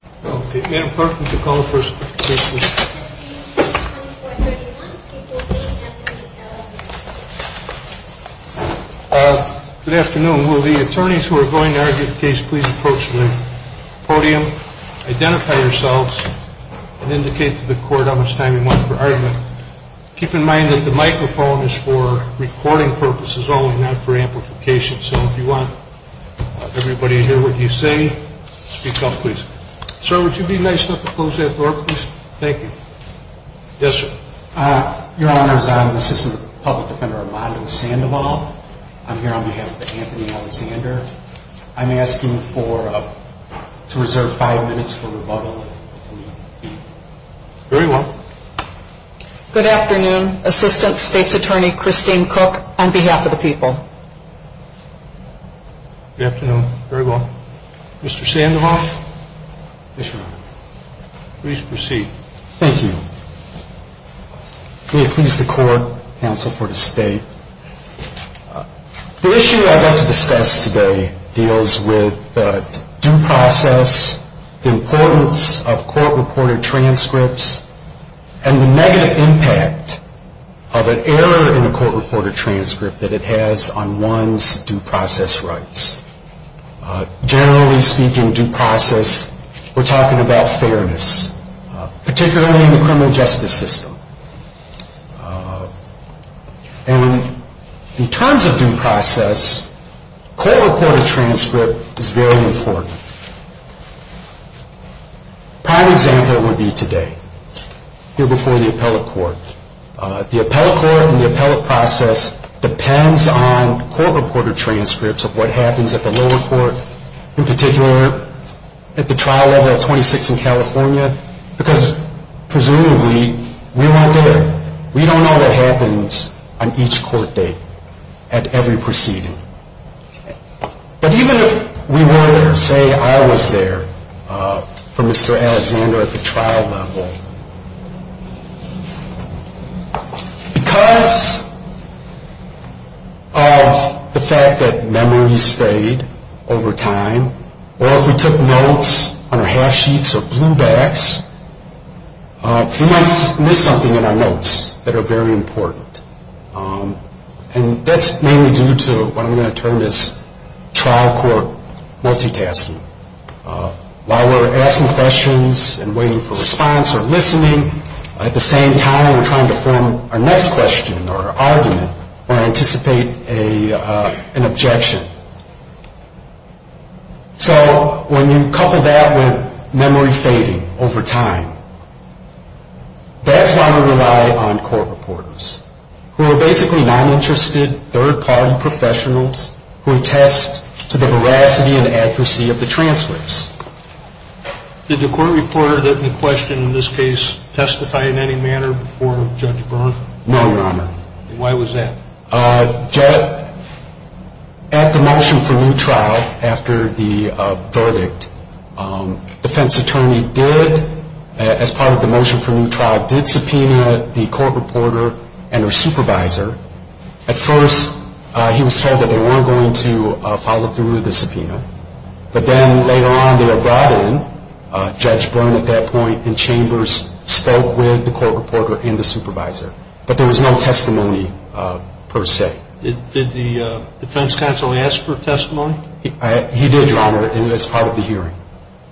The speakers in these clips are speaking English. Good afternoon. Will the attorneys who are going to argue the case please approach the podium, identify yourselves, and indicate to the court how much time you want for argument. Keep in mind that the microphone is for recording purposes only, not for amplification. So if you want everybody to hear what you say, speak up please. Sir, would you be nice enough to close that door please? Thank you. Yes sir. Your Honor, I'm Assistant Public Defender Armando Sandoval. I'm here on behalf of Anthony Alexander. I'm asking to reserve five minutes for rebuttal. Very well. Good afternoon. Assistant State's Attorney Christine Cook on behalf of the people. Good afternoon. Very well. Mr. Sandoval? Yes, Your Honor. Please proceed. Thank you. May it please the Court, counsel for the State. The issue I'd like to discuss today deals with due process, the importance of court-reported transcripts, and the negative impact of an error in a court-reported transcript that it has on one's due process rights. Generally speaking, due process, we're talking about fairness, particularly in the criminal justice system. And in terms of due process, court-reported transcript is very important. A prime example would be today, here before the appellate court. The appellate court and the appellate process depends on court-reported transcripts of what happens at the lower court, in particular at the trial level of 26 in California, because presumably we weren't there. We don't know what happens on each court date, at every proceeding. But even if we were there, say I was there for Mr. Alexander at the trial level, because of the fact that memories fade over time, or if we took notes on our half-sheets or bluebacks, we might miss something in our notes that are very important. And that's mainly due to what I'm going to term as trial-court multitasking. While we're asking questions and waiting for response or listening, at the same time we're trying to form our next question or argument or anticipate an objection. So when you couple that with memory fading over time, that's why we rely on court-reporters, who are basically non-interested, third-party professionals who attest to the veracity and accuracy of the transcripts. Did the court-reporter in the question in this case testify in any manner before Judge Brown? No, Your Honor. Why was that? At the motion for new trial, after the verdict, defense attorney did, as part of the motion for new trial, did subpoena the court-reporter and her supervisor. At first, he was told that they weren't going to follow through with the subpoena. But then later on, they were brought in, Judge Brown at that point, and Chambers spoke with the court-reporter and the supervisor. But there was no testimony per se. Did the defense counsel ask for testimony? He did, Your Honor, as part of the hearing.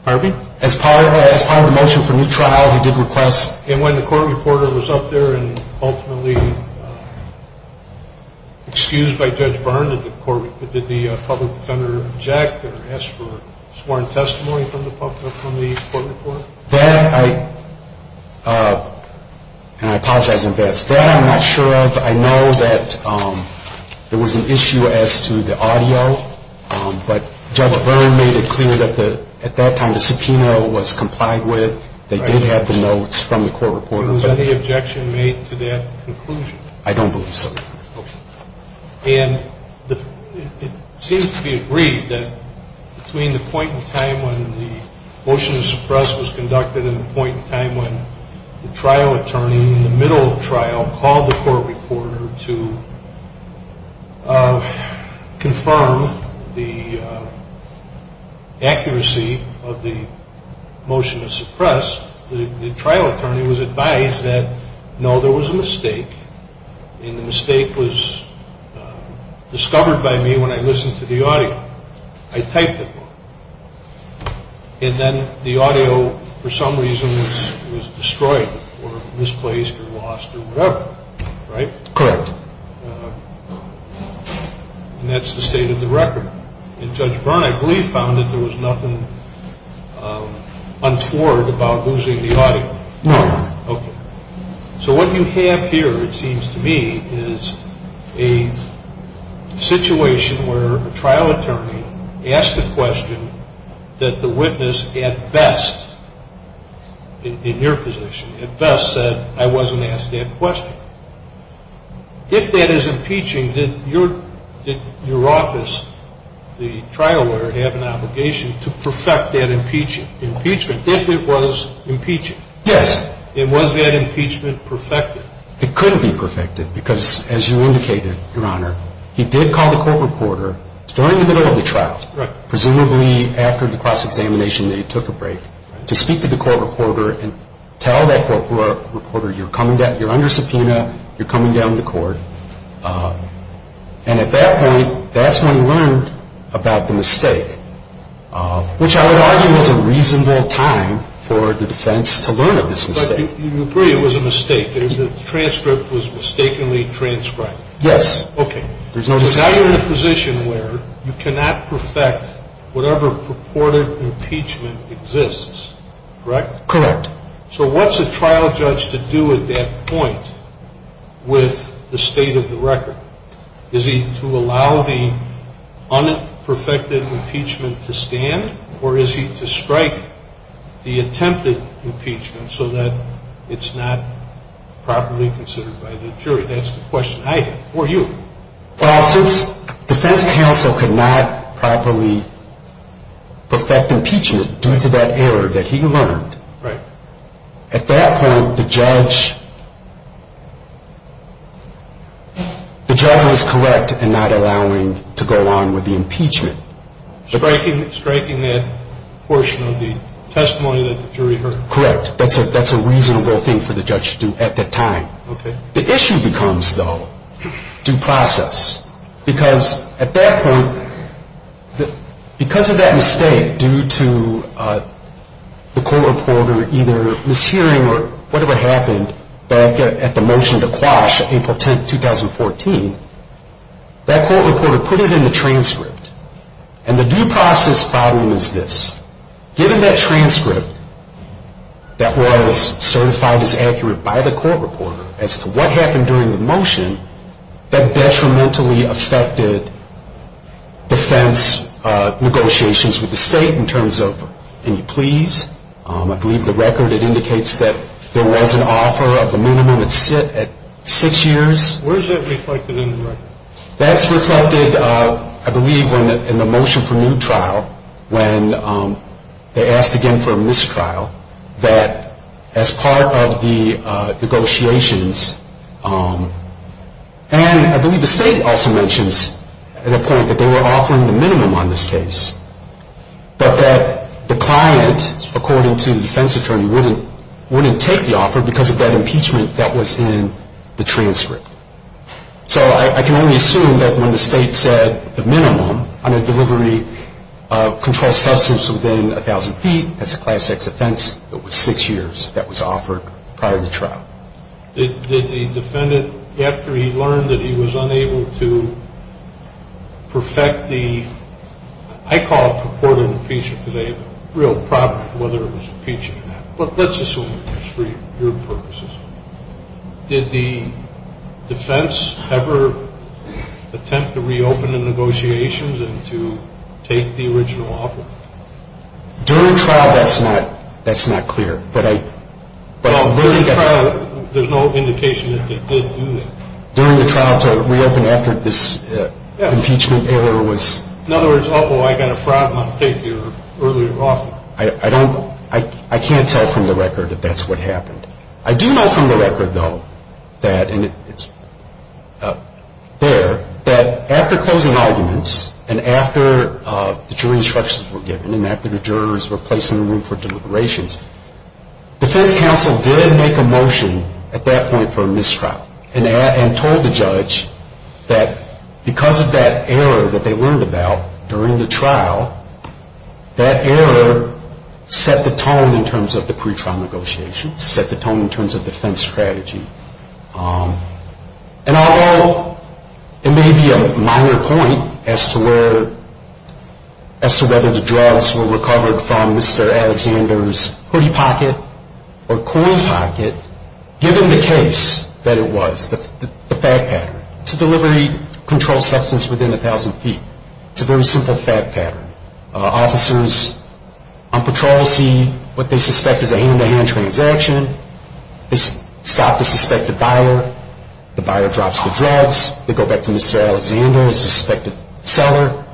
Pardon me? As part of the motion for new trial, he did request. And when the court-reporter was up there and ultimately excused by Judge Brown, did the public defender object or ask for sworn testimony from the court-reporter? No, Your Honor. And I apologize in advance. That I'm not sure of. I know that there was an issue as to the audio. But Judge Brown made it clear that at that time the subpoena was complied with. They did have the notes from the court-reporter. Was any objection made to that conclusion? I don't believe so, Your Honor. Okay. And it seems to be agreed that between the point in time when the motion to suppress was conducted and the point in time when the trial attorney in the middle of the trial called the court-reporter to confirm the accuracy of the motion to suppress, the trial attorney was advised that, no, there was a mistake. And the mistake was discovered by me when I listened to the audio. I typed it. And then the audio, for some reason, was destroyed or misplaced or lost or whatever. Right? Correct. And that's the state of the record. And Judge Brown, I believe, found that there was nothing untoward about losing the audio. No. Okay. So what you have here, it seems to me, is a situation where a trial attorney asked a question that the witness, at best, in your position, at best said, I wasn't asked that question. If that is impeaching, did your office, the trial lawyer, have an obligation to perfect that impeachment if it was impeaching? Yes. And was that impeachment perfected? It couldn't be perfected because, as you indicated, Your Honor, he did call the court-reporter during the middle of the trial. Right. And at that point, that's when he learned about the mistake, which I would argue was a reasonable time for the defense to learn of this mistake. But you agree it was a mistake. The transcript was mistakenly transcribed. Yes. Okay. Because now you're in a position where you cannot perfect whatever purported impeachment exists. Correct? Correct. So what's a trial judge to do at that point with the state of the record? Is he to allow the unperfected impeachment to stand, or is he to strike the attempted impeachment so that it's not properly considered by the jury? That's the question I have for you. Well, since defense counsel could not properly perfect impeachment due to that error that he learned. Right. At that point, the judge was correct in not allowing to go along with the impeachment. Striking that portion of the testimony that the jury heard. Correct. That's a reasonable thing for the judge to do at that time. Okay. The issue becomes, though, due process. Because at that point, because of that mistake due to the court reporter either mishearing or whatever happened back at the motion to quash April 10, 2014, that court reporter put it in the transcript. And the due process problem is this. Given that transcript that was certified as accurate by the court reporter as to what happened during the motion, that detrimentally affected defense negotiations with the state in terms of any pleas. I believe the record, it indicates that there was an offer of a minimum at six years. Where is that reflected in the record? That's reflected, I believe, in the motion for new trial when they asked again for a mistrial that as part of the negotiations, and I believe the state also mentions at a point that they were offering the minimum on this case, but that the client, according to the defense attorney, wouldn't take the offer because of that impeachment that was in the transcript. So I can only assume that when the state said the minimum on a delivery of controlled substance within 1,000 feet, that's a class X offense, it was six years that was offered prior to the trial. Did the defendant, after he learned that he was unable to perfect the, I call it purported impeachment today, but real problem whether it was impeachment or not. But let's assume it was for your purposes. Did the defense ever attempt to reopen the negotiations and to take the original offer? During trial, that's not clear. During the trial, there's no indication that they did do that. During the trial to reopen after this impeachment error was... In other words, oh boy, I got a problem, I'll take your earlier offer. I can't tell from the record if that's what happened. I do know from the record, though, that, and it's there, that after closing arguments and after the jury instructions were given and after the jurors were placed in the room for deliberations, defense counsel did make a motion at that point for a mistrial and told the judge that because of that error that they learned about during the trial, that error set the tone in terms of the pre-trial negotiations, set the tone in terms of defense strategy. And although it may be a minor point as to where, as to whether the drugs were recovered from Mr. Alexander's hoodie pocket or coin pocket, given the case that it was, the fact pattern. It's a delivery control substance within 1,000 feet. It's a very simple fact pattern. Officers on patrol see what they suspect is a hand-to-hand transaction. They stop the suspected buyer. The buyer drops the drugs. They go back to Mr. Alexander, the suspected seller,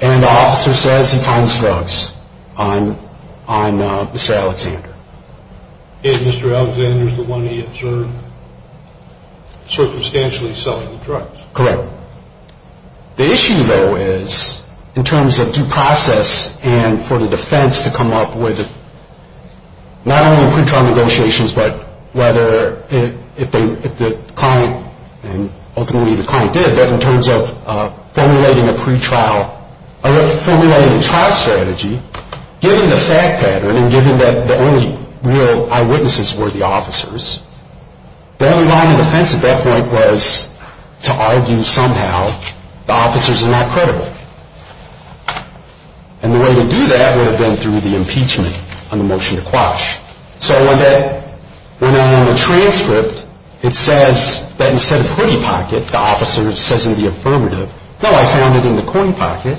and the officer says he finds drugs on Mr. Alexander. And Mr. Alexander is the one he observed circumstantially selling the drugs. Correct. The issue, though, is in terms of due process and for the defense to come up with not only pre-trial negotiations, but whether if the client, and ultimately the client did, but in terms of formulating a trial strategy, given the fact pattern and given that the only real eyewitnesses were the officers, the only line of defense at that point was to argue somehow the officers are not credible. And the way to do that would have been through the impeachment on the motion to quash. So when that went on in the transcript, it says that instead of hoodie pocket, the officer says in the affirmative, no, I found it in the coin pocket.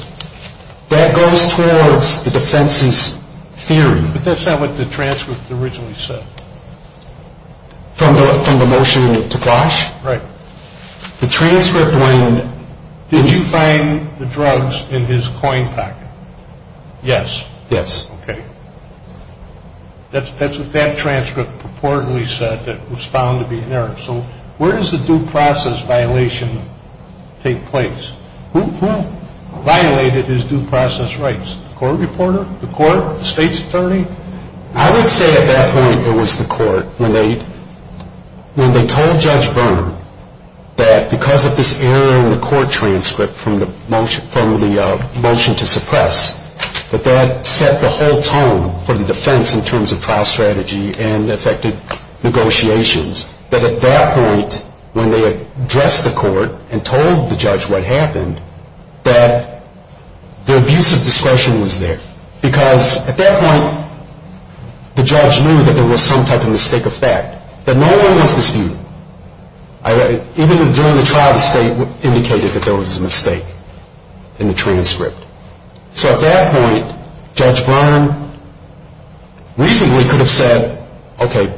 That goes towards the defense's theory. But that's not what the transcript originally said. From the motion to quash? Right. The transcript went, did you find the drugs in his coin pocket? Yes. Yes. Okay. That's what that transcript purportedly said that was found to be an error. So where does the due process violation take place? Who violated his due process rights? The court reporter? The court? The state's attorney? I would say at that point it was the court. When they told Judge Verner that because of this error in the court transcript from the motion to suppress, that that set the whole tone for the defense in terms of trial strategy and affected negotiations, that at that point when they addressed the court and told the judge what happened, that the abuse of discretion was there because at that point the judge knew that there was some type of mistake of fact, that no one was disputing. Even during the trial, the state indicated that there was a mistake in the transcript. So at that point, Judge Verner reasonably could have said, okay,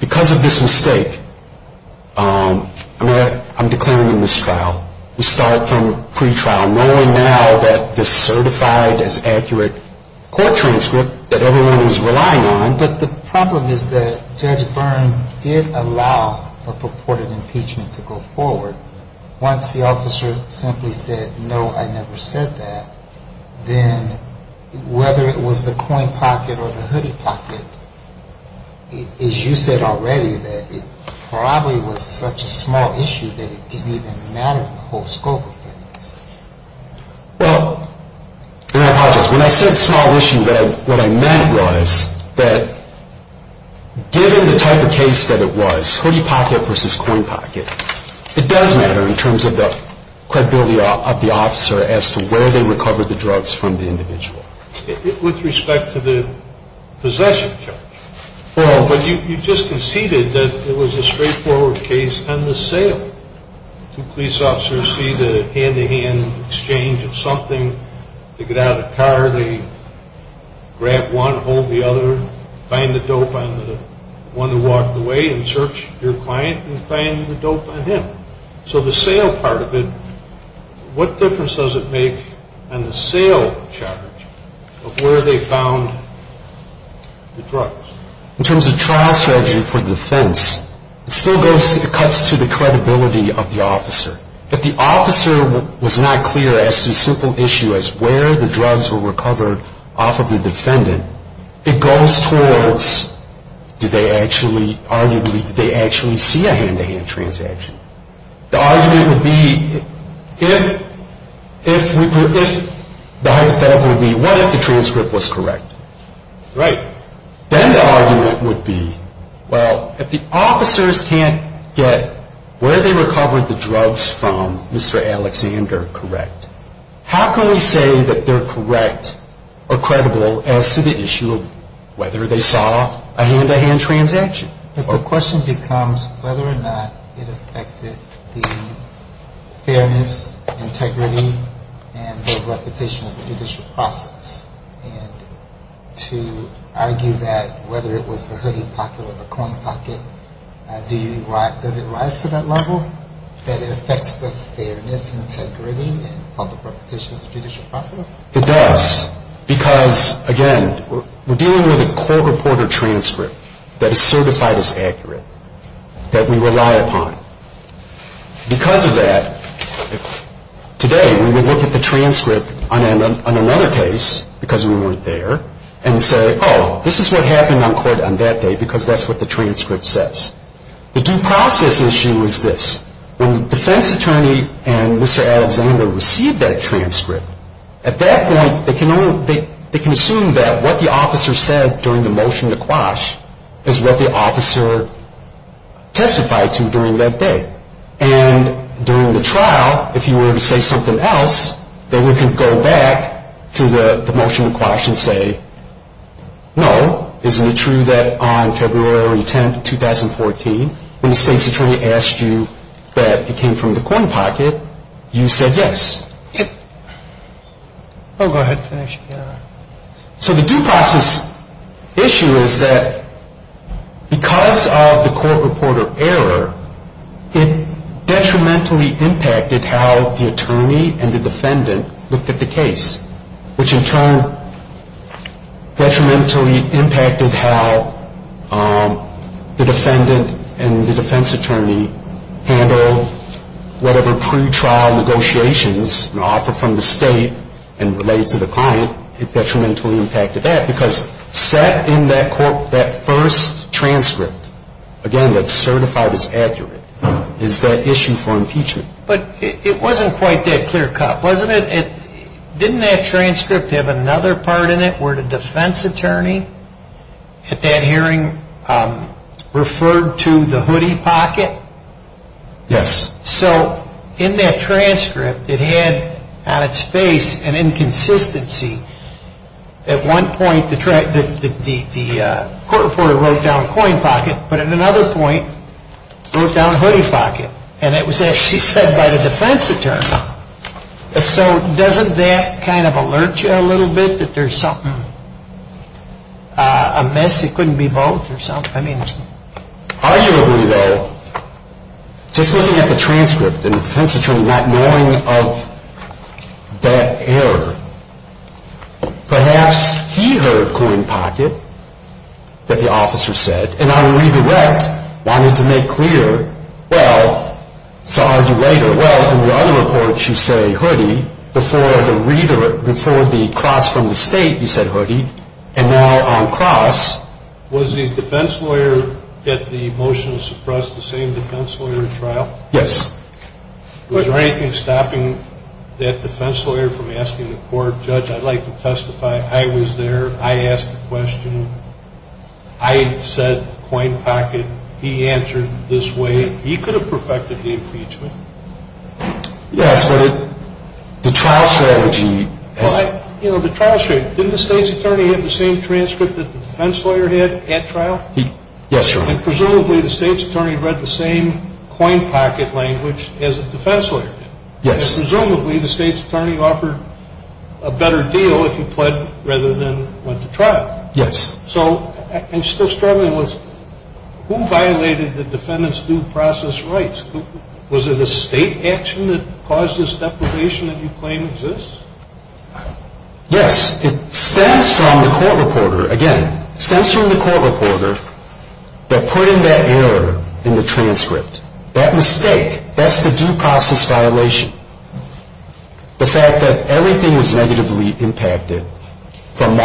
because of this mistake, I'm declaring him in this trial. We start from pretrial, knowing now that the certified as accurate court transcript that everyone was relying on. But the problem is that Judge Verner did allow a purported impeachment to go forward. Once the officer simply said, no, I never said that, then whether it was the coin pocket or the hooded pocket, as you said already, that it probably was such a small issue that it didn't even matter in the whole scope of things. Well, and I apologize. When I said small issue, what I meant was that given the type of case that it was, hooded pocket versus coin pocket, it does matter in terms of the credibility of the officer as to where they recovered the drugs from the individual. With respect to the possession charge, you just conceded that it was a straightforward case on the sale. Two police officers see the hand-to-hand exchange of something. They get out of the car, they grab one, hold the other, find the dope on the one who walked away and search your client and find the dope on him. So the sale part of it, what difference does it make on the sale charge of where they found the drugs? In terms of trial strategy for defense, it still cuts to the credibility of the officer. If the officer was not clear as to the simple issue as where the drugs were recovered off of the defendant, it goes towards do they actually, arguably, do they actually see a hand-to-hand transaction? The argument would be if the hypothetical would be what if the transcript was correct? Right. Then the argument would be, well, if the officers can't get where they recovered the drugs from Mr. Alexander correct, how can we say that they're correct or credible as to the issue of whether they saw a hand-to-hand transaction? But the question becomes whether or not it affected the fairness, integrity, and the reputation of the judicial process. And to argue that whether it was the hoodie pocket or the coin pocket, does it rise to that level, that it affects the fairness, integrity, and public reputation of the judicial process? It does. Because, again, we're dealing with a court reporter transcript that is certified as accurate, that we rely upon. Because of that, today when we look at the transcript on another case, because we weren't there, and say, oh, this is what happened on court on that day because that's what the transcript says. The due process issue is this. When the defense attorney and Mr. Alexander received that transcript, at that point, they can assume that what the officer said during the motion to quash is what the officer testified to during that day. And during the trial, if he were to say something else, then we can go back to the motion to quash and say, no, isn't it true that on February 10th, 2014, when the state's attorney asked you that it came from the coin pocket, you said yes. I'll go ahead and finish. So the due process issue is that because of the court reporter error, it detrimentally impacted how the attorney and the defendant looked at the case, which in turn detrimentally impacted how the defendant and the defense attorney handled whatever pretrial negotiations and offer from the state and related to the client. It detrimentally impacted that because set in that first transcript, again, that's certified as accurate, is that issue for impeachment. But it wasn't quite that clear cut, wasn't it? Didn't that transcript have another part in it where the defense attorney at that hearing referred to the hoodie pocket? Yes. So in that transcript, it had on its face an inconsistency. At one point, the court reporter wrote down coin pocket, but at another point, wrote down hoodie pocket. And it was actually said by the defense attorney. So doesn't that kind of alert you a little bit that there's something amiss? It couldn't be both or something? Arguably, though, just looking at the transcript and the defense attorney not knowing of that error, perhaps he heard coin pocket that the officer said, and on redirect, wanted to make clear, well, to argue later. Well, in the other reports, you say hoodie. Before the cross from the state, you said hoodie. And now on cross. Was the defense lawyer at the motion to suppress the same defense lawyer in trial? Yes. Was there anything stopping that defense lawyer from asking the court, judge, I'd like to testify. I was there. I asked the question. I said coin pocket. He answered this way. He could have perfected the impeachment. Yes, but the trial strategy. The trial strategy. Didn't the state's attorney have the same transcript that the defense lawyer had at trial? Yes, Your Honor. Presumably, the state's attorney read the same coin pocket language as the defense lawyer did. Yes. Presumably, the state's attorney offered a better deal if he pled rather than went to trial. Yes. I'm still struggling. Who violated the defendant's due process rights? Was it a state action that caused this depredation that you claim exists? Yes. It stems from the court reporter. Again, it stems from the court reporter that put in that error in the transcript. That mistake. That's the due process violation. The fact that everything was negatively impacted from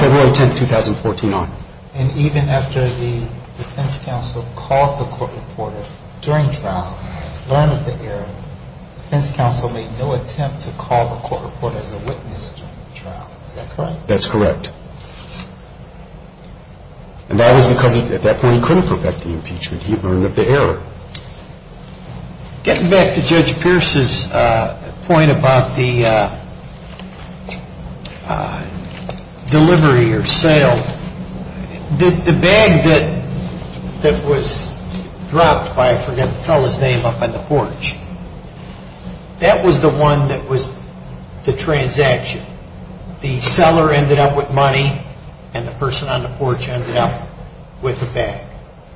February 10, 2014 on. And even after the defense counsel called the court reporter during trial, learned of the error, defense counsel made no attempt to call the court reporter as a witness during the trial. Is that correct? That's correct. And that was because at that point he couldn't perfect the impeachment. He learned of the error. Getting back to Judge Pierce's point about the delivery or sale, the bag that was dropped by, I forget the fellow's name, up on the porch, that was the one that was the transaction. The seller ended up with money and the person on the porch ended up with the bag.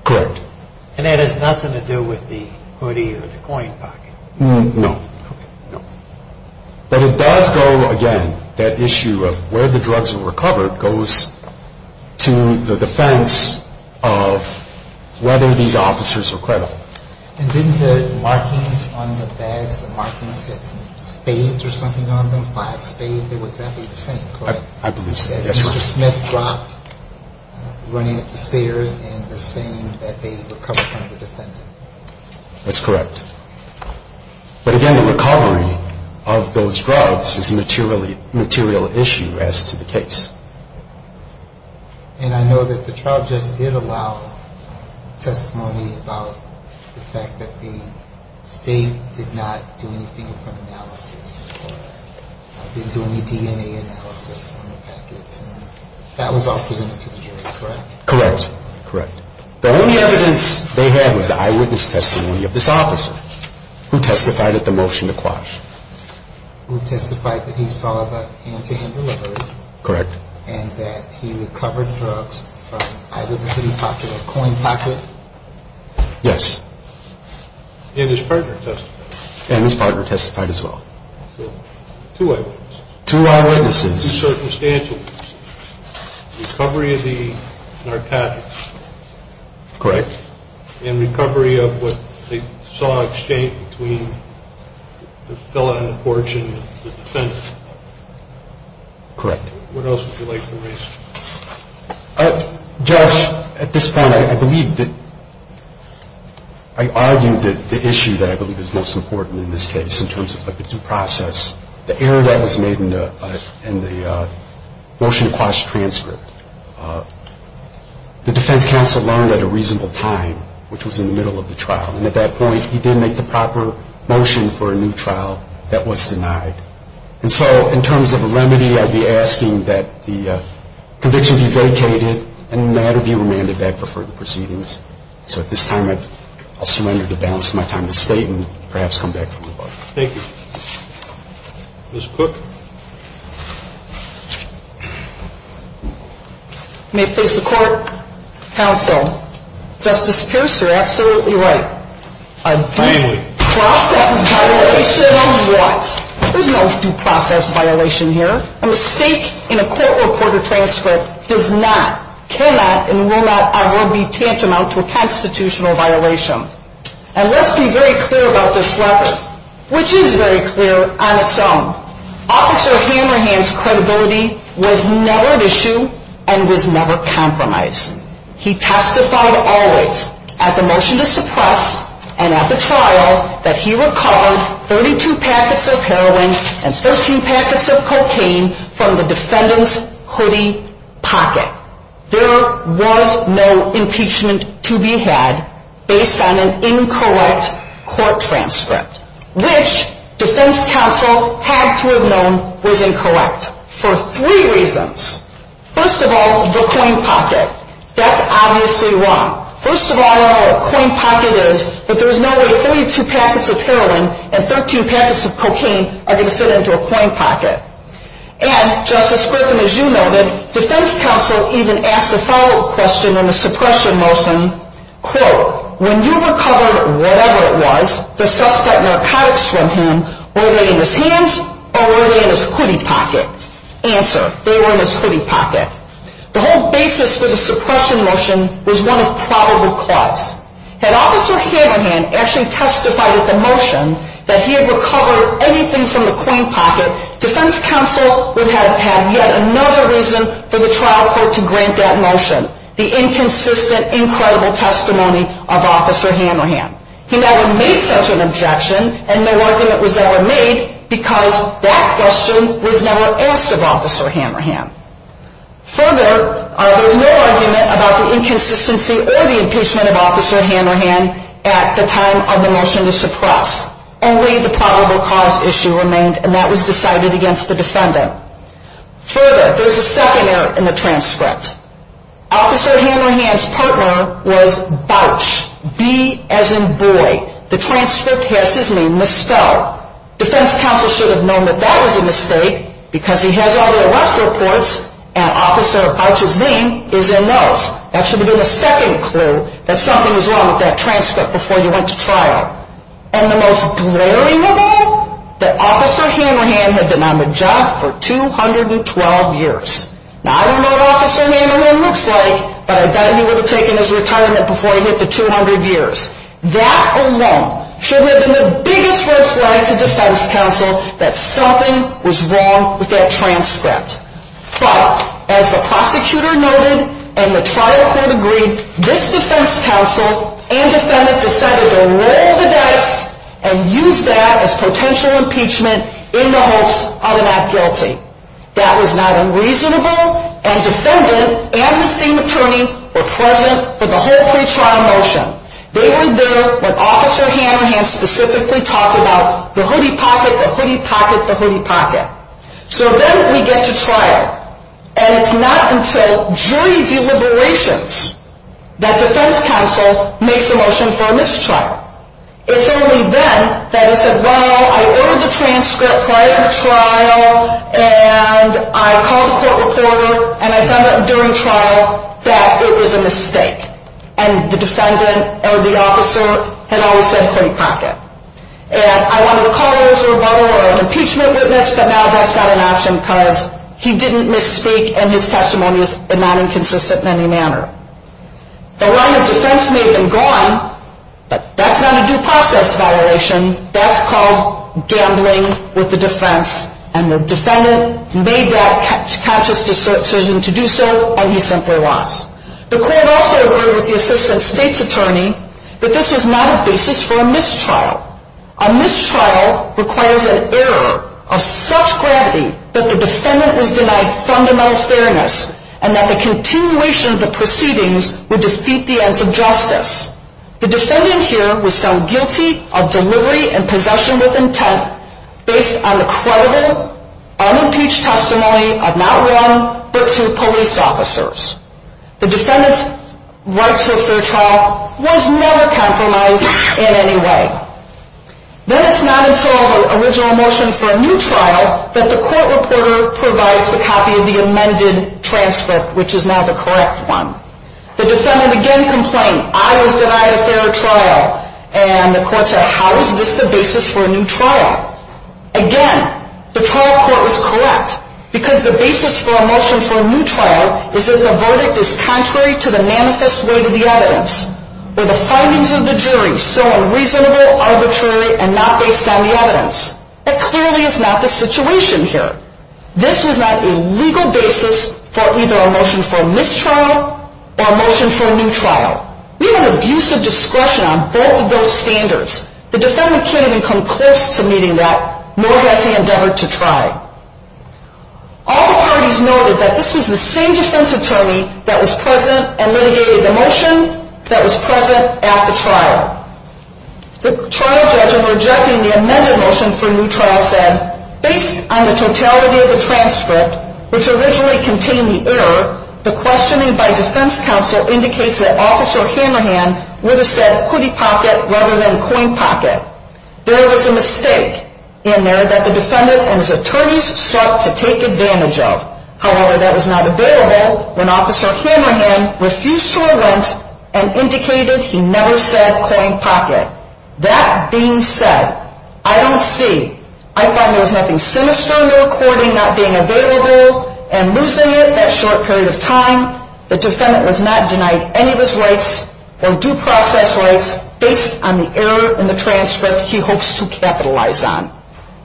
Correct. And that has nothing to do with the hoodie or the coin pocket? No. Okay. No. But it does go, again, that issue of where the drugs were recovered goes to the defense of whether these officers are credible. And didn't the markings on the bags, the markings that said spades or something on them, five spades, they were exactly the same, correct? I believe so. As Mr. Smith dropped, running up the stairs, and the same that they recovered from the defendant. That's correct. But, again, the recovery of those drugs is a material issue as to the case. And I know that the trial judge did allow testimony about the fact that the state did not do anything from analysis or didn't do any DNA analysis on the packets. That was all presented to the jury, correct? Correct. Correct. The only evidence they had was the eyewitness testimony of this officer who testified at the motion to quash. Who testified that he saw the hand-to-hand delivery. Correct. And that he recovered drugs from either the hoodie pocket or coin pocket. Yes. And his partner testified. And his partner testified as well. So two eyewitnesses. Two eyewitnesses. Two circumstantial witnesses. Recovery of the narcotics. Correct. And recovery of what they saw exchange between the fellow on the porch and the defendant. Correct. What else would you like to raise? Josh, at this point, I believe that I argued that the issue that I believe is most important in this case in terms of the due process, the error that was made in the motion to quash transcript, the defense counsel learned at a reasonable time, which was in the middle of the trial. And at that point, he didn't make the proper motion for a new trial that was denied. And so in terms of a remedy, I'd be asking that the conviction be vacated and the matter be remanded back for further proceedings. So at this time, I'll surrender to balance my time at the State and perhaps come back for more. Thank you. Ms. Cook. May it please the Court, counsel, Justice Pierce, you're absolutely right. A due process violation of what? There's no due process violation here. A mistake in a court-reported transcript does not, cannot, and will not ever be tantamount to a constitutional violation. And let's be very clear about this record, which is very clear on its own. Officer Hammerhand's credibility was never an issue and was never compromised. He testified always at the motion to suppress and at the trial that he recovered 32 packets of heroin and 13 packets of cocaine from the defendant's hoodie pocket. There was no impeachment to be had based on an incorrect court transcript, which defense counsel had to have known was incorrect for three reasons. First of all, the coin pocket. That's obviously wrong. First of all, a coin pocket is that there's no way 32 packets of heroin and 13 packets of cocaine are going to fit into a coin pocket. And, Justice Griffin, as you noted, defense counsel even asked a follow-up question on the suppression motion. Quote, when you recovered whatever it was, the suspect narcotics from him, were they in his hands or were they in his hoodie pocket? Answer, they were in his hoodie pocket. The whole basis for the suppression motion was one of probable cause. Had Officer Hammerhand actually testified at the motion that he had recovered anything from the coin pocket, defense counsel would have had yet another reason for the trial court to grant that motion, the inconsistent, incredible testimony of Officer Hammerhand. He never made such an objection and no argument was ever made because that question was never asked of Officer Hammerhand. Further, there was no argument about the inconsistency or the impeachment of Officer Hammerhand at the time of the motion to suppress. Only the probable cause issue remained and that was decided against the defendant. Further, there's a second error in the transcript. Officer Hammerhand's partner was Bouch, B as in boy. The transcript has his name misspelled. Defense counsel should have known that that was a mistake because he has all the arrest reports and Officer Bouch's name is in those. That should have been a second clue that something was wrong with that transcript before you went to trial. And the most glaring of all, that Officer Hammerhand had been on the job for 212 years. Now, I don't know what Officer Hammerhand looks like, but I bet he would have taken his retirement before he hit the 200 years. That alone should have been the biggest red flag to defense counsel that something was wrong with that transcript. But as the prosecutor noted and the trial court agreed, this defense counsel and defendant decided to roll the dice and use that as potential impeachment in the hopes of a not guilty. That was not unreasonable and defendant and the same attorney were present for the whole pre-trial motion. They were there when Officer Hammerhand specifically talked about the hoodie pocket, the hoodie pocket, the hoodie pocket. So then we get to trial and it's not until jury deliberations that defense counsel makes the motion for a mistrial. It's only then that he said, well, I ordered the transcript prior to the trial and I called the court reporter and I found out during trial that it was a mistake. And the defendant or the officer had always said a hoodie pocket. And I wanted to call this a rebuttal or an impeachment witness, but now that's not an option because he didn't misspeak and his testimony is not inconsistent in any manner. The line of defense made him go on, but that's not a due process violation. That's called gambling with the defense and the defendant made that conscious decision to do so and he simply lost. The court also agreed with the assistant state's attorney that this was not a basis for a mistrial. A mistrial requires an error of such gravity that the defendant was denied fundamental fairness and that the continuation of the proceedings would defeat the ends of justice. The defendant here was found guilty of delivery and possession with intent based on the credible, unimpeached testimony of not one, but two police officers. The defendant's right to a fair trial was never compromised in any way. Then it's not until the original motion for a new trial that the court reporter provides the copy of the amended transcript, which is now the correct one. The defendant again complained, I was denied a fair trial, and the court said, how is this the basis for a new trial? Again, the trial court was correct because the basis for a motion for a new trial is that the verdict is contrary to the manifest way to the evidence, or the findings of the jury so unreasonable, arbitrary, and not based on the evidence. That clearly is not the situation here. This is not a legal basis for either a motion for a mistrial or a motion for a new trial. We have an abuse of discretion on both of those standards. The defendant can't even come close to meeting that, nor has he endeavored to try. All the parties noted that this was the same defense attorney that was present and litigated the motion that was present at the trial. The trial judge in rejecting the amended motion for a new trial said, based on the totality of the transcript, which originally contained the error, the questioning by defense counsel indicates that Officer Hammerhan would have said hoodie pocket rather than coin pocket. There was a mistake in there that the defendant and his attorneys sought to take advantage of. However, that was not available when Officer Hammerhan refused to relent and indicated he never said coin pocket. That being said, I don't see, I find there was nothing sinister in the recording not being available and losing it that short period of time. The defendant was not denied any of his rights or due process rights based on the error in the transcript he hopes to capitalize on.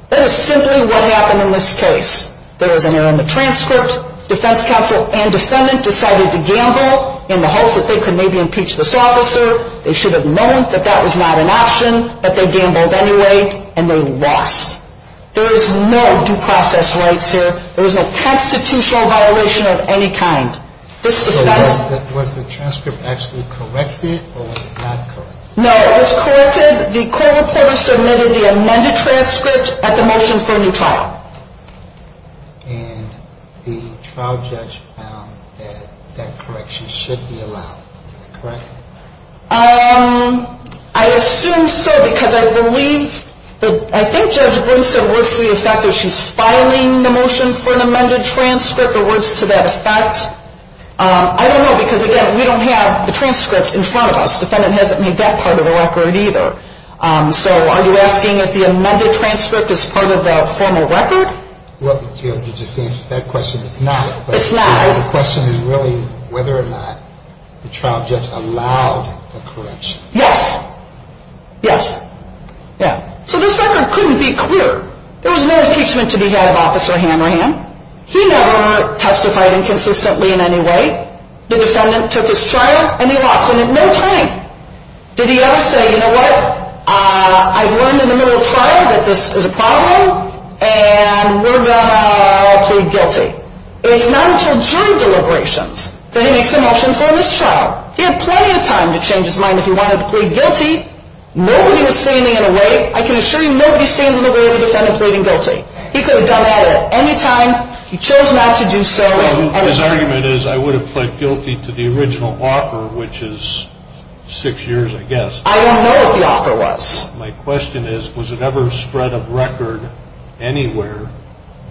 That is simply what happened in this case. There was an error in the transcript. Defense counsel and defendant decided to gamble in the hopes that they could maybe impeach this officer. They should have known that that was not an option, but they gambled anyway and they lost. There is no due process rights here. There is no constitutional violation of any kind. This defense ‑‑ So was the transcript actually corrected or was it not corrected? No, it was corrected. The court reporter submitted the amended transcript at the motion for a new trial. And the trial judge found that that correction should be allowed. Is that correct? I assume so because I believe, I think Judge Brinson works to the effect that she's filing the motion for an amended transcript or works to that effect. I don't know because, again, we don't have the transcript in front of us. The defendant hasn't made that part of the record either. So are you asking if the amended transcript is part of the formal record? Well, you just answered that question. It's not. It's not. So the question is really whether or not the trial judge allowed the correction. Yes. Yes. Yeah. So this record couldn't be cleared. There was no impeachment to be had of Officer Hammerham. He never testified inconsistently in any way. The defendant took his trial and he lost. And in the meantime, did he ever say, you know what, I've learned in the middle of trial that this is a problem and we're going to plead guilty. It's not until jury deliberations that he makes a motion for this trial. He had plenty of time to change his mind if he wanted to plead guilty. Nobody was standing in the way. I can assure you nobody stands in the way of the defendant pleading guilty. He could have done that at any time. He chose not to do so. His argument is I would have pled guilty to the original offer, which is six years, I guess. I don't know what the offer was. My question is, was it ever spread of record anywhere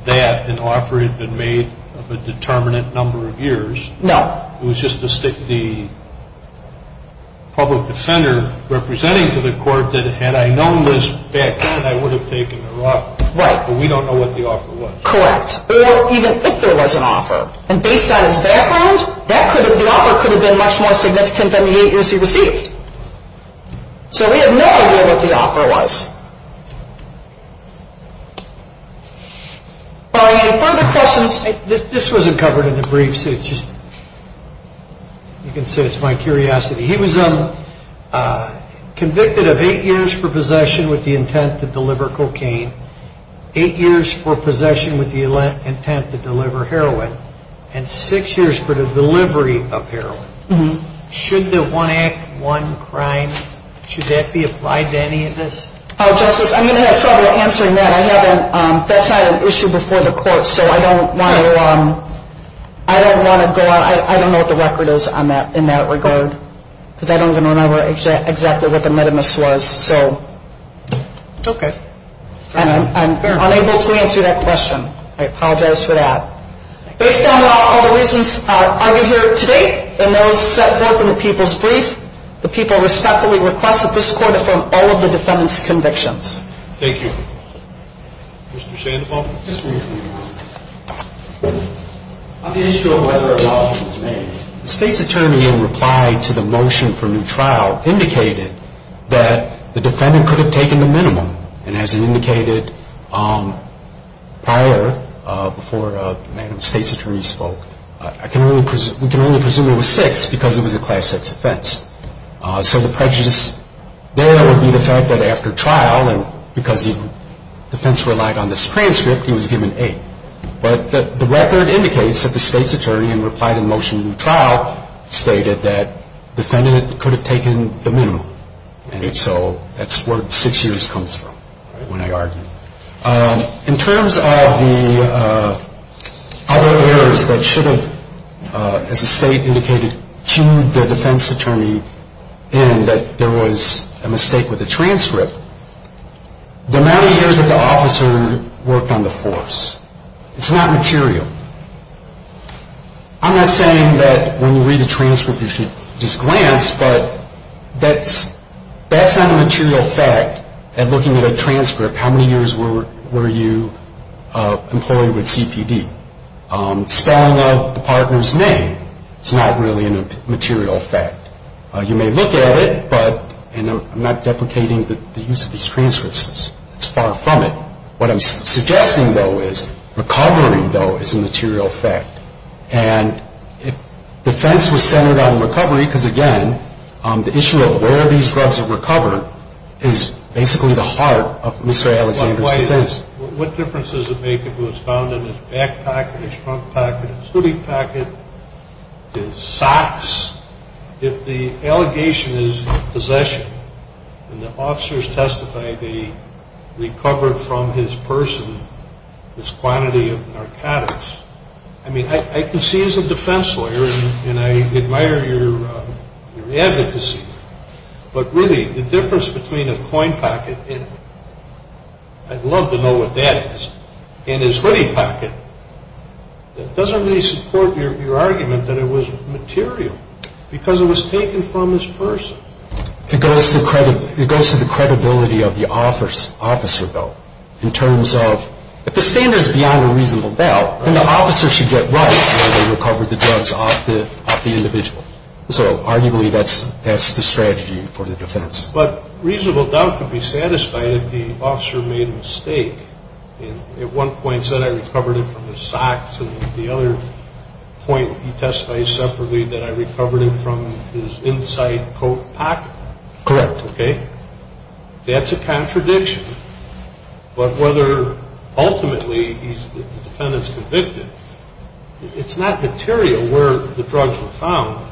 that an offer had been made of a determinate number of years? No. It was just the public defender representing to the court that had I known Liz back then, I would have taken her off. Right. But we don't know what the offer was. Correct. Or even if there was an offer. And based on his background, the offer could have been much more significant than the eight years he received. So we have no idea what the offer was. If you have any further questions. This wasn't covered in the briefs. You can say it's my curiosity. He was convicted of eight years for possession with the intent to deliver cocaine, eight years for possession with the intent to deliver heroin, and six years for the delivery of heroin. Should the one act, one crime, should that be applied to any of this? Justice, I'm going to have trouble answering that. I haven't. That's not an issue before the court, so I don't want to go out. I don't know what the record is in that regard because I don't even remember exactly what the medimus was. So I'm unable to answer that question. I apologize for that. Based on all the reasons argued here today and those set forth in the people's brief, the people respectfully request that this court affirm all of the defendant's convictions. Thank you. Mr. Shandepaul. Yes, Your Honor. On the issue of whether a balance was made, the State's attorney in reply to the motion for a new trial indicated that the defendant could have taken the minimum. And as it indicated prior, before Madam State's attorney spoke, we can only presume it was six because it was a Class VI offense. So the prejudice there would be the fact that after trial, and because the defense relied on this transcript, he was given eight. But the record indicates that the State's attorney in reply to the motion for a new trial stated that the defendant could have taken the minimum. And so that's where six years comes from when I argue. In terms of the other errors that should have, as the State indicated, cued the defense attorney in that there was a mistake with the transcript, the amount of years that the officer worked on the force, it's not material. I'm not saying that when you read the transcript you should just glance, but that's not a material fact. And looking at a transcript, how many years were you employed with CPD? Spelling out the partner's name is not really a material fact. You may look at it, but I'm not deprecating the use of these transcripts. It's far from it. What I'm suggesting, though, is recovery, though, is a material fact. And defense was centered on recovery because, again, the issue of where these drugs are recovered is basically the heart of Mr. Alexander's defense. What difference does it make if it was found in his back pocket, his front pocket, his hoodie pocket, his socks? If the allegation is possession and the officers testified they recovered from his person this quantity of narcotics, I mean, I can see as a defense lawyer, and I admire your advocacy, but really the difference between a coin pocket, and I'd love to know what that is, and his hoodie pocket doesn't really support your argument that it was material because it was taken from his person. It goes to the credibility of the officer, though, in terms of if the standard is beyond a reasonable doubt, then the officer should get right where they recovered the drugs off the individual. So arguably that's the strategy for the defense. But reasonable doubt could be satisfied if the officer made a mistake and at one point said I recovered it from his socks and at the other point he testified separately that I recovered it from his inside coat pocket. Correct. That's a contradiction, but whether ultimately the defendant's convicted, it's not material where the drugs were found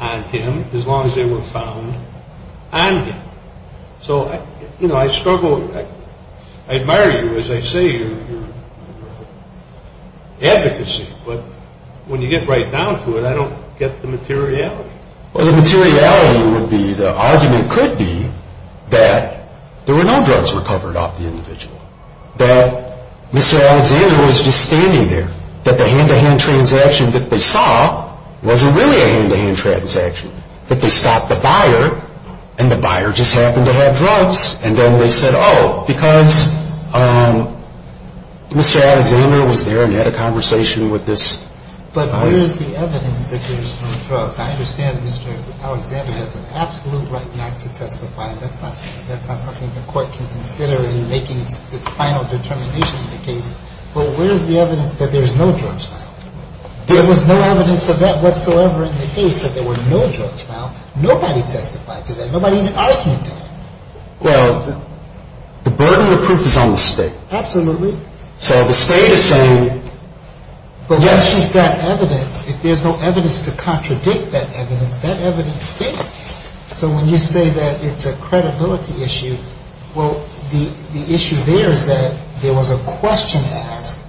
on him as long as they were found on him. So I struggle, I admire you as I say your advocacy, but when you get right down to it I don't get the materiality. Well, the materiality would be, the argument could be that there were no drugs recovered off the individual, that Mr. Alexander was just standing there, that the hand-to-hand transaction that they saw wasn't really a hand-to-hand transaction, that they stopped the buyer and the buyer just happened to have drugs, and then they said oh, because Mr. Alexander was there and had a conversation with this buyer. But where is the evidence that there's no drugs? I understand Mr. Alexander has an absolute right not to testify, that's not something the court can consider in making the final determination of the case, but where is the evidence that there's no drugs found? There was no evidence of that whatsoever in the case that there were no drugs found. Nobody testified to that. Nobody even argued that. Well, the burden of proof is on the State. Absolutely. So the State is saying yes. But what's with that evidence? If there's no evidence to contradict that evidence, that evidence stands. So when you say that it's a credibility issue, well, the issue there is that there was a question asked,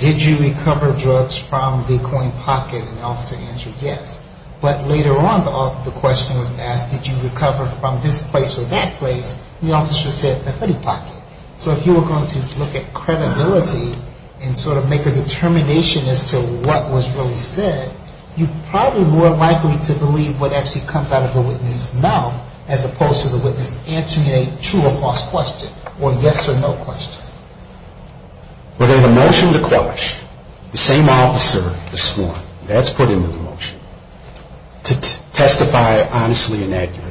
did you recover drugs from the coin pocket, and the officer answered yes. But later on the question was asked, did you recover from this place or that place, and the officer said the hoodie pocket. So if you were going to look at credibility and sort of make a determination as to what was really said, you're probably more likely to believe what actually comes out of the witness' mouth as opposed to the witness answering a true or false question, or a yes or no question. But in the motion to quell it, the same officer is sworn, that's put into the motion, to testify honestly and accurately.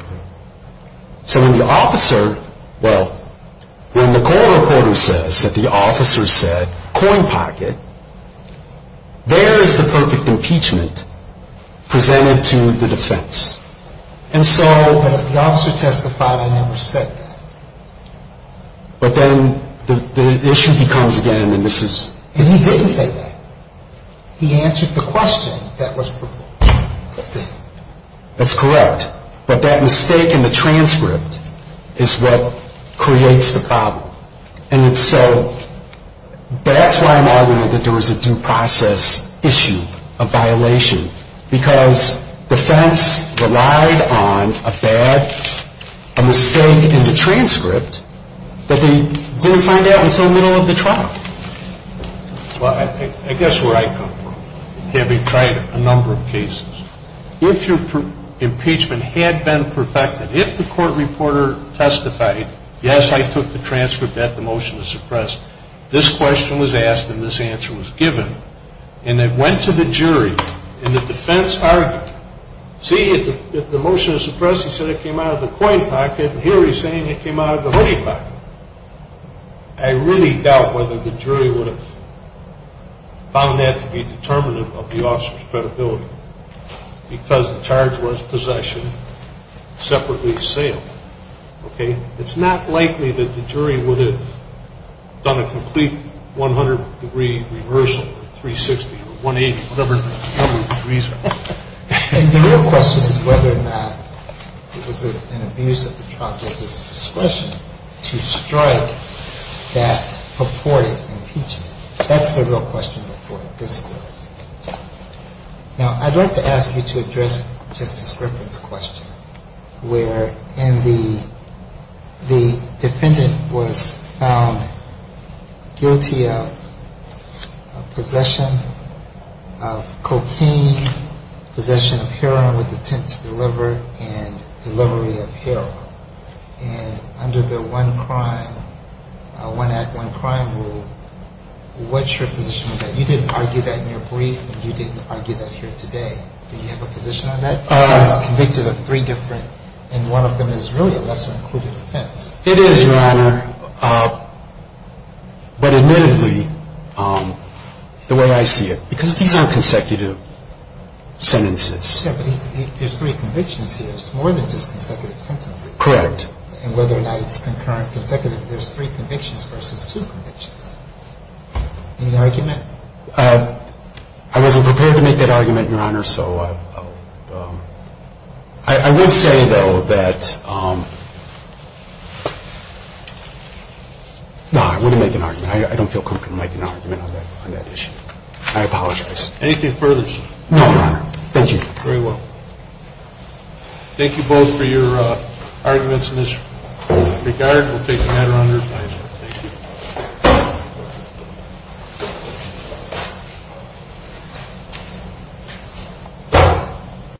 So when the officer, well, when the Cole reporter says that the officer said coin pocket, there is the perfect impeachment presented to the defense. But if the officer testified, I never said that. But then the issue becomes again, and this is... And he didn't say that. He answered the question that was proven. That's correct. But that mistake in the transcript is what creates the problem. And so that's why I'm arguing that there was a due process issue, a violation, because defense relied on a bad mistake in the transcript that they didn't find out until the middle of the trial. Well, I guess where I come from, having tried a number of cases, if your impeachment had been perfected, if the court reporter testified, yes, I took the transcript that the motion to suppress, this question was asked and this answer was given, and it went to the jury and the defense argued, see, the motion to suppress, it said it came out of the coin pocket, and here he's saying it came out of the hoodie pocket. I really doubt whether the jury would have found that to be determinative of the officer's credibility because the charge was possession, separately assailed. Okay? It's not likely that the jury would have done a complete 100-degree reversal, 360 or 180, whatever the degrees are. And the real question is whether or not it was an abuse of the trial justice discretion to strike that purported impeachment. That's the real question before this court. Now, I'd like to ask you to address Justice Griffin's question where the defendant was found guilty of possession of cocaine, possession of heroin with intent to deliver, and delivery of heroin. And under the one crime, one act, one crime rule, what's your position on that? You didn't argue that in your brief and you didn't argue that here today. Do you have a position on that? He was convicted of three different, and one of them is really a lesser-included offense. It is, Your Honor, but admittedly, the way I see it, because these aren't consecutive sentences. It's more than just consecutive sentences. Correct. And whether or not it's concurrent, consecutive, there's three convictions versus two convictions. Any argument? I wasn't prepared to make that argument, Your Honor, so I would say, though, that no, I wouldn't make an argument. I don't feel comfortable making an argument on that issue. I apologize. Anything further, Chief? No, Your Honor. Thank you. Very well. Thank you both for your arguments in this regard. We'll take a matter under review. Thank you.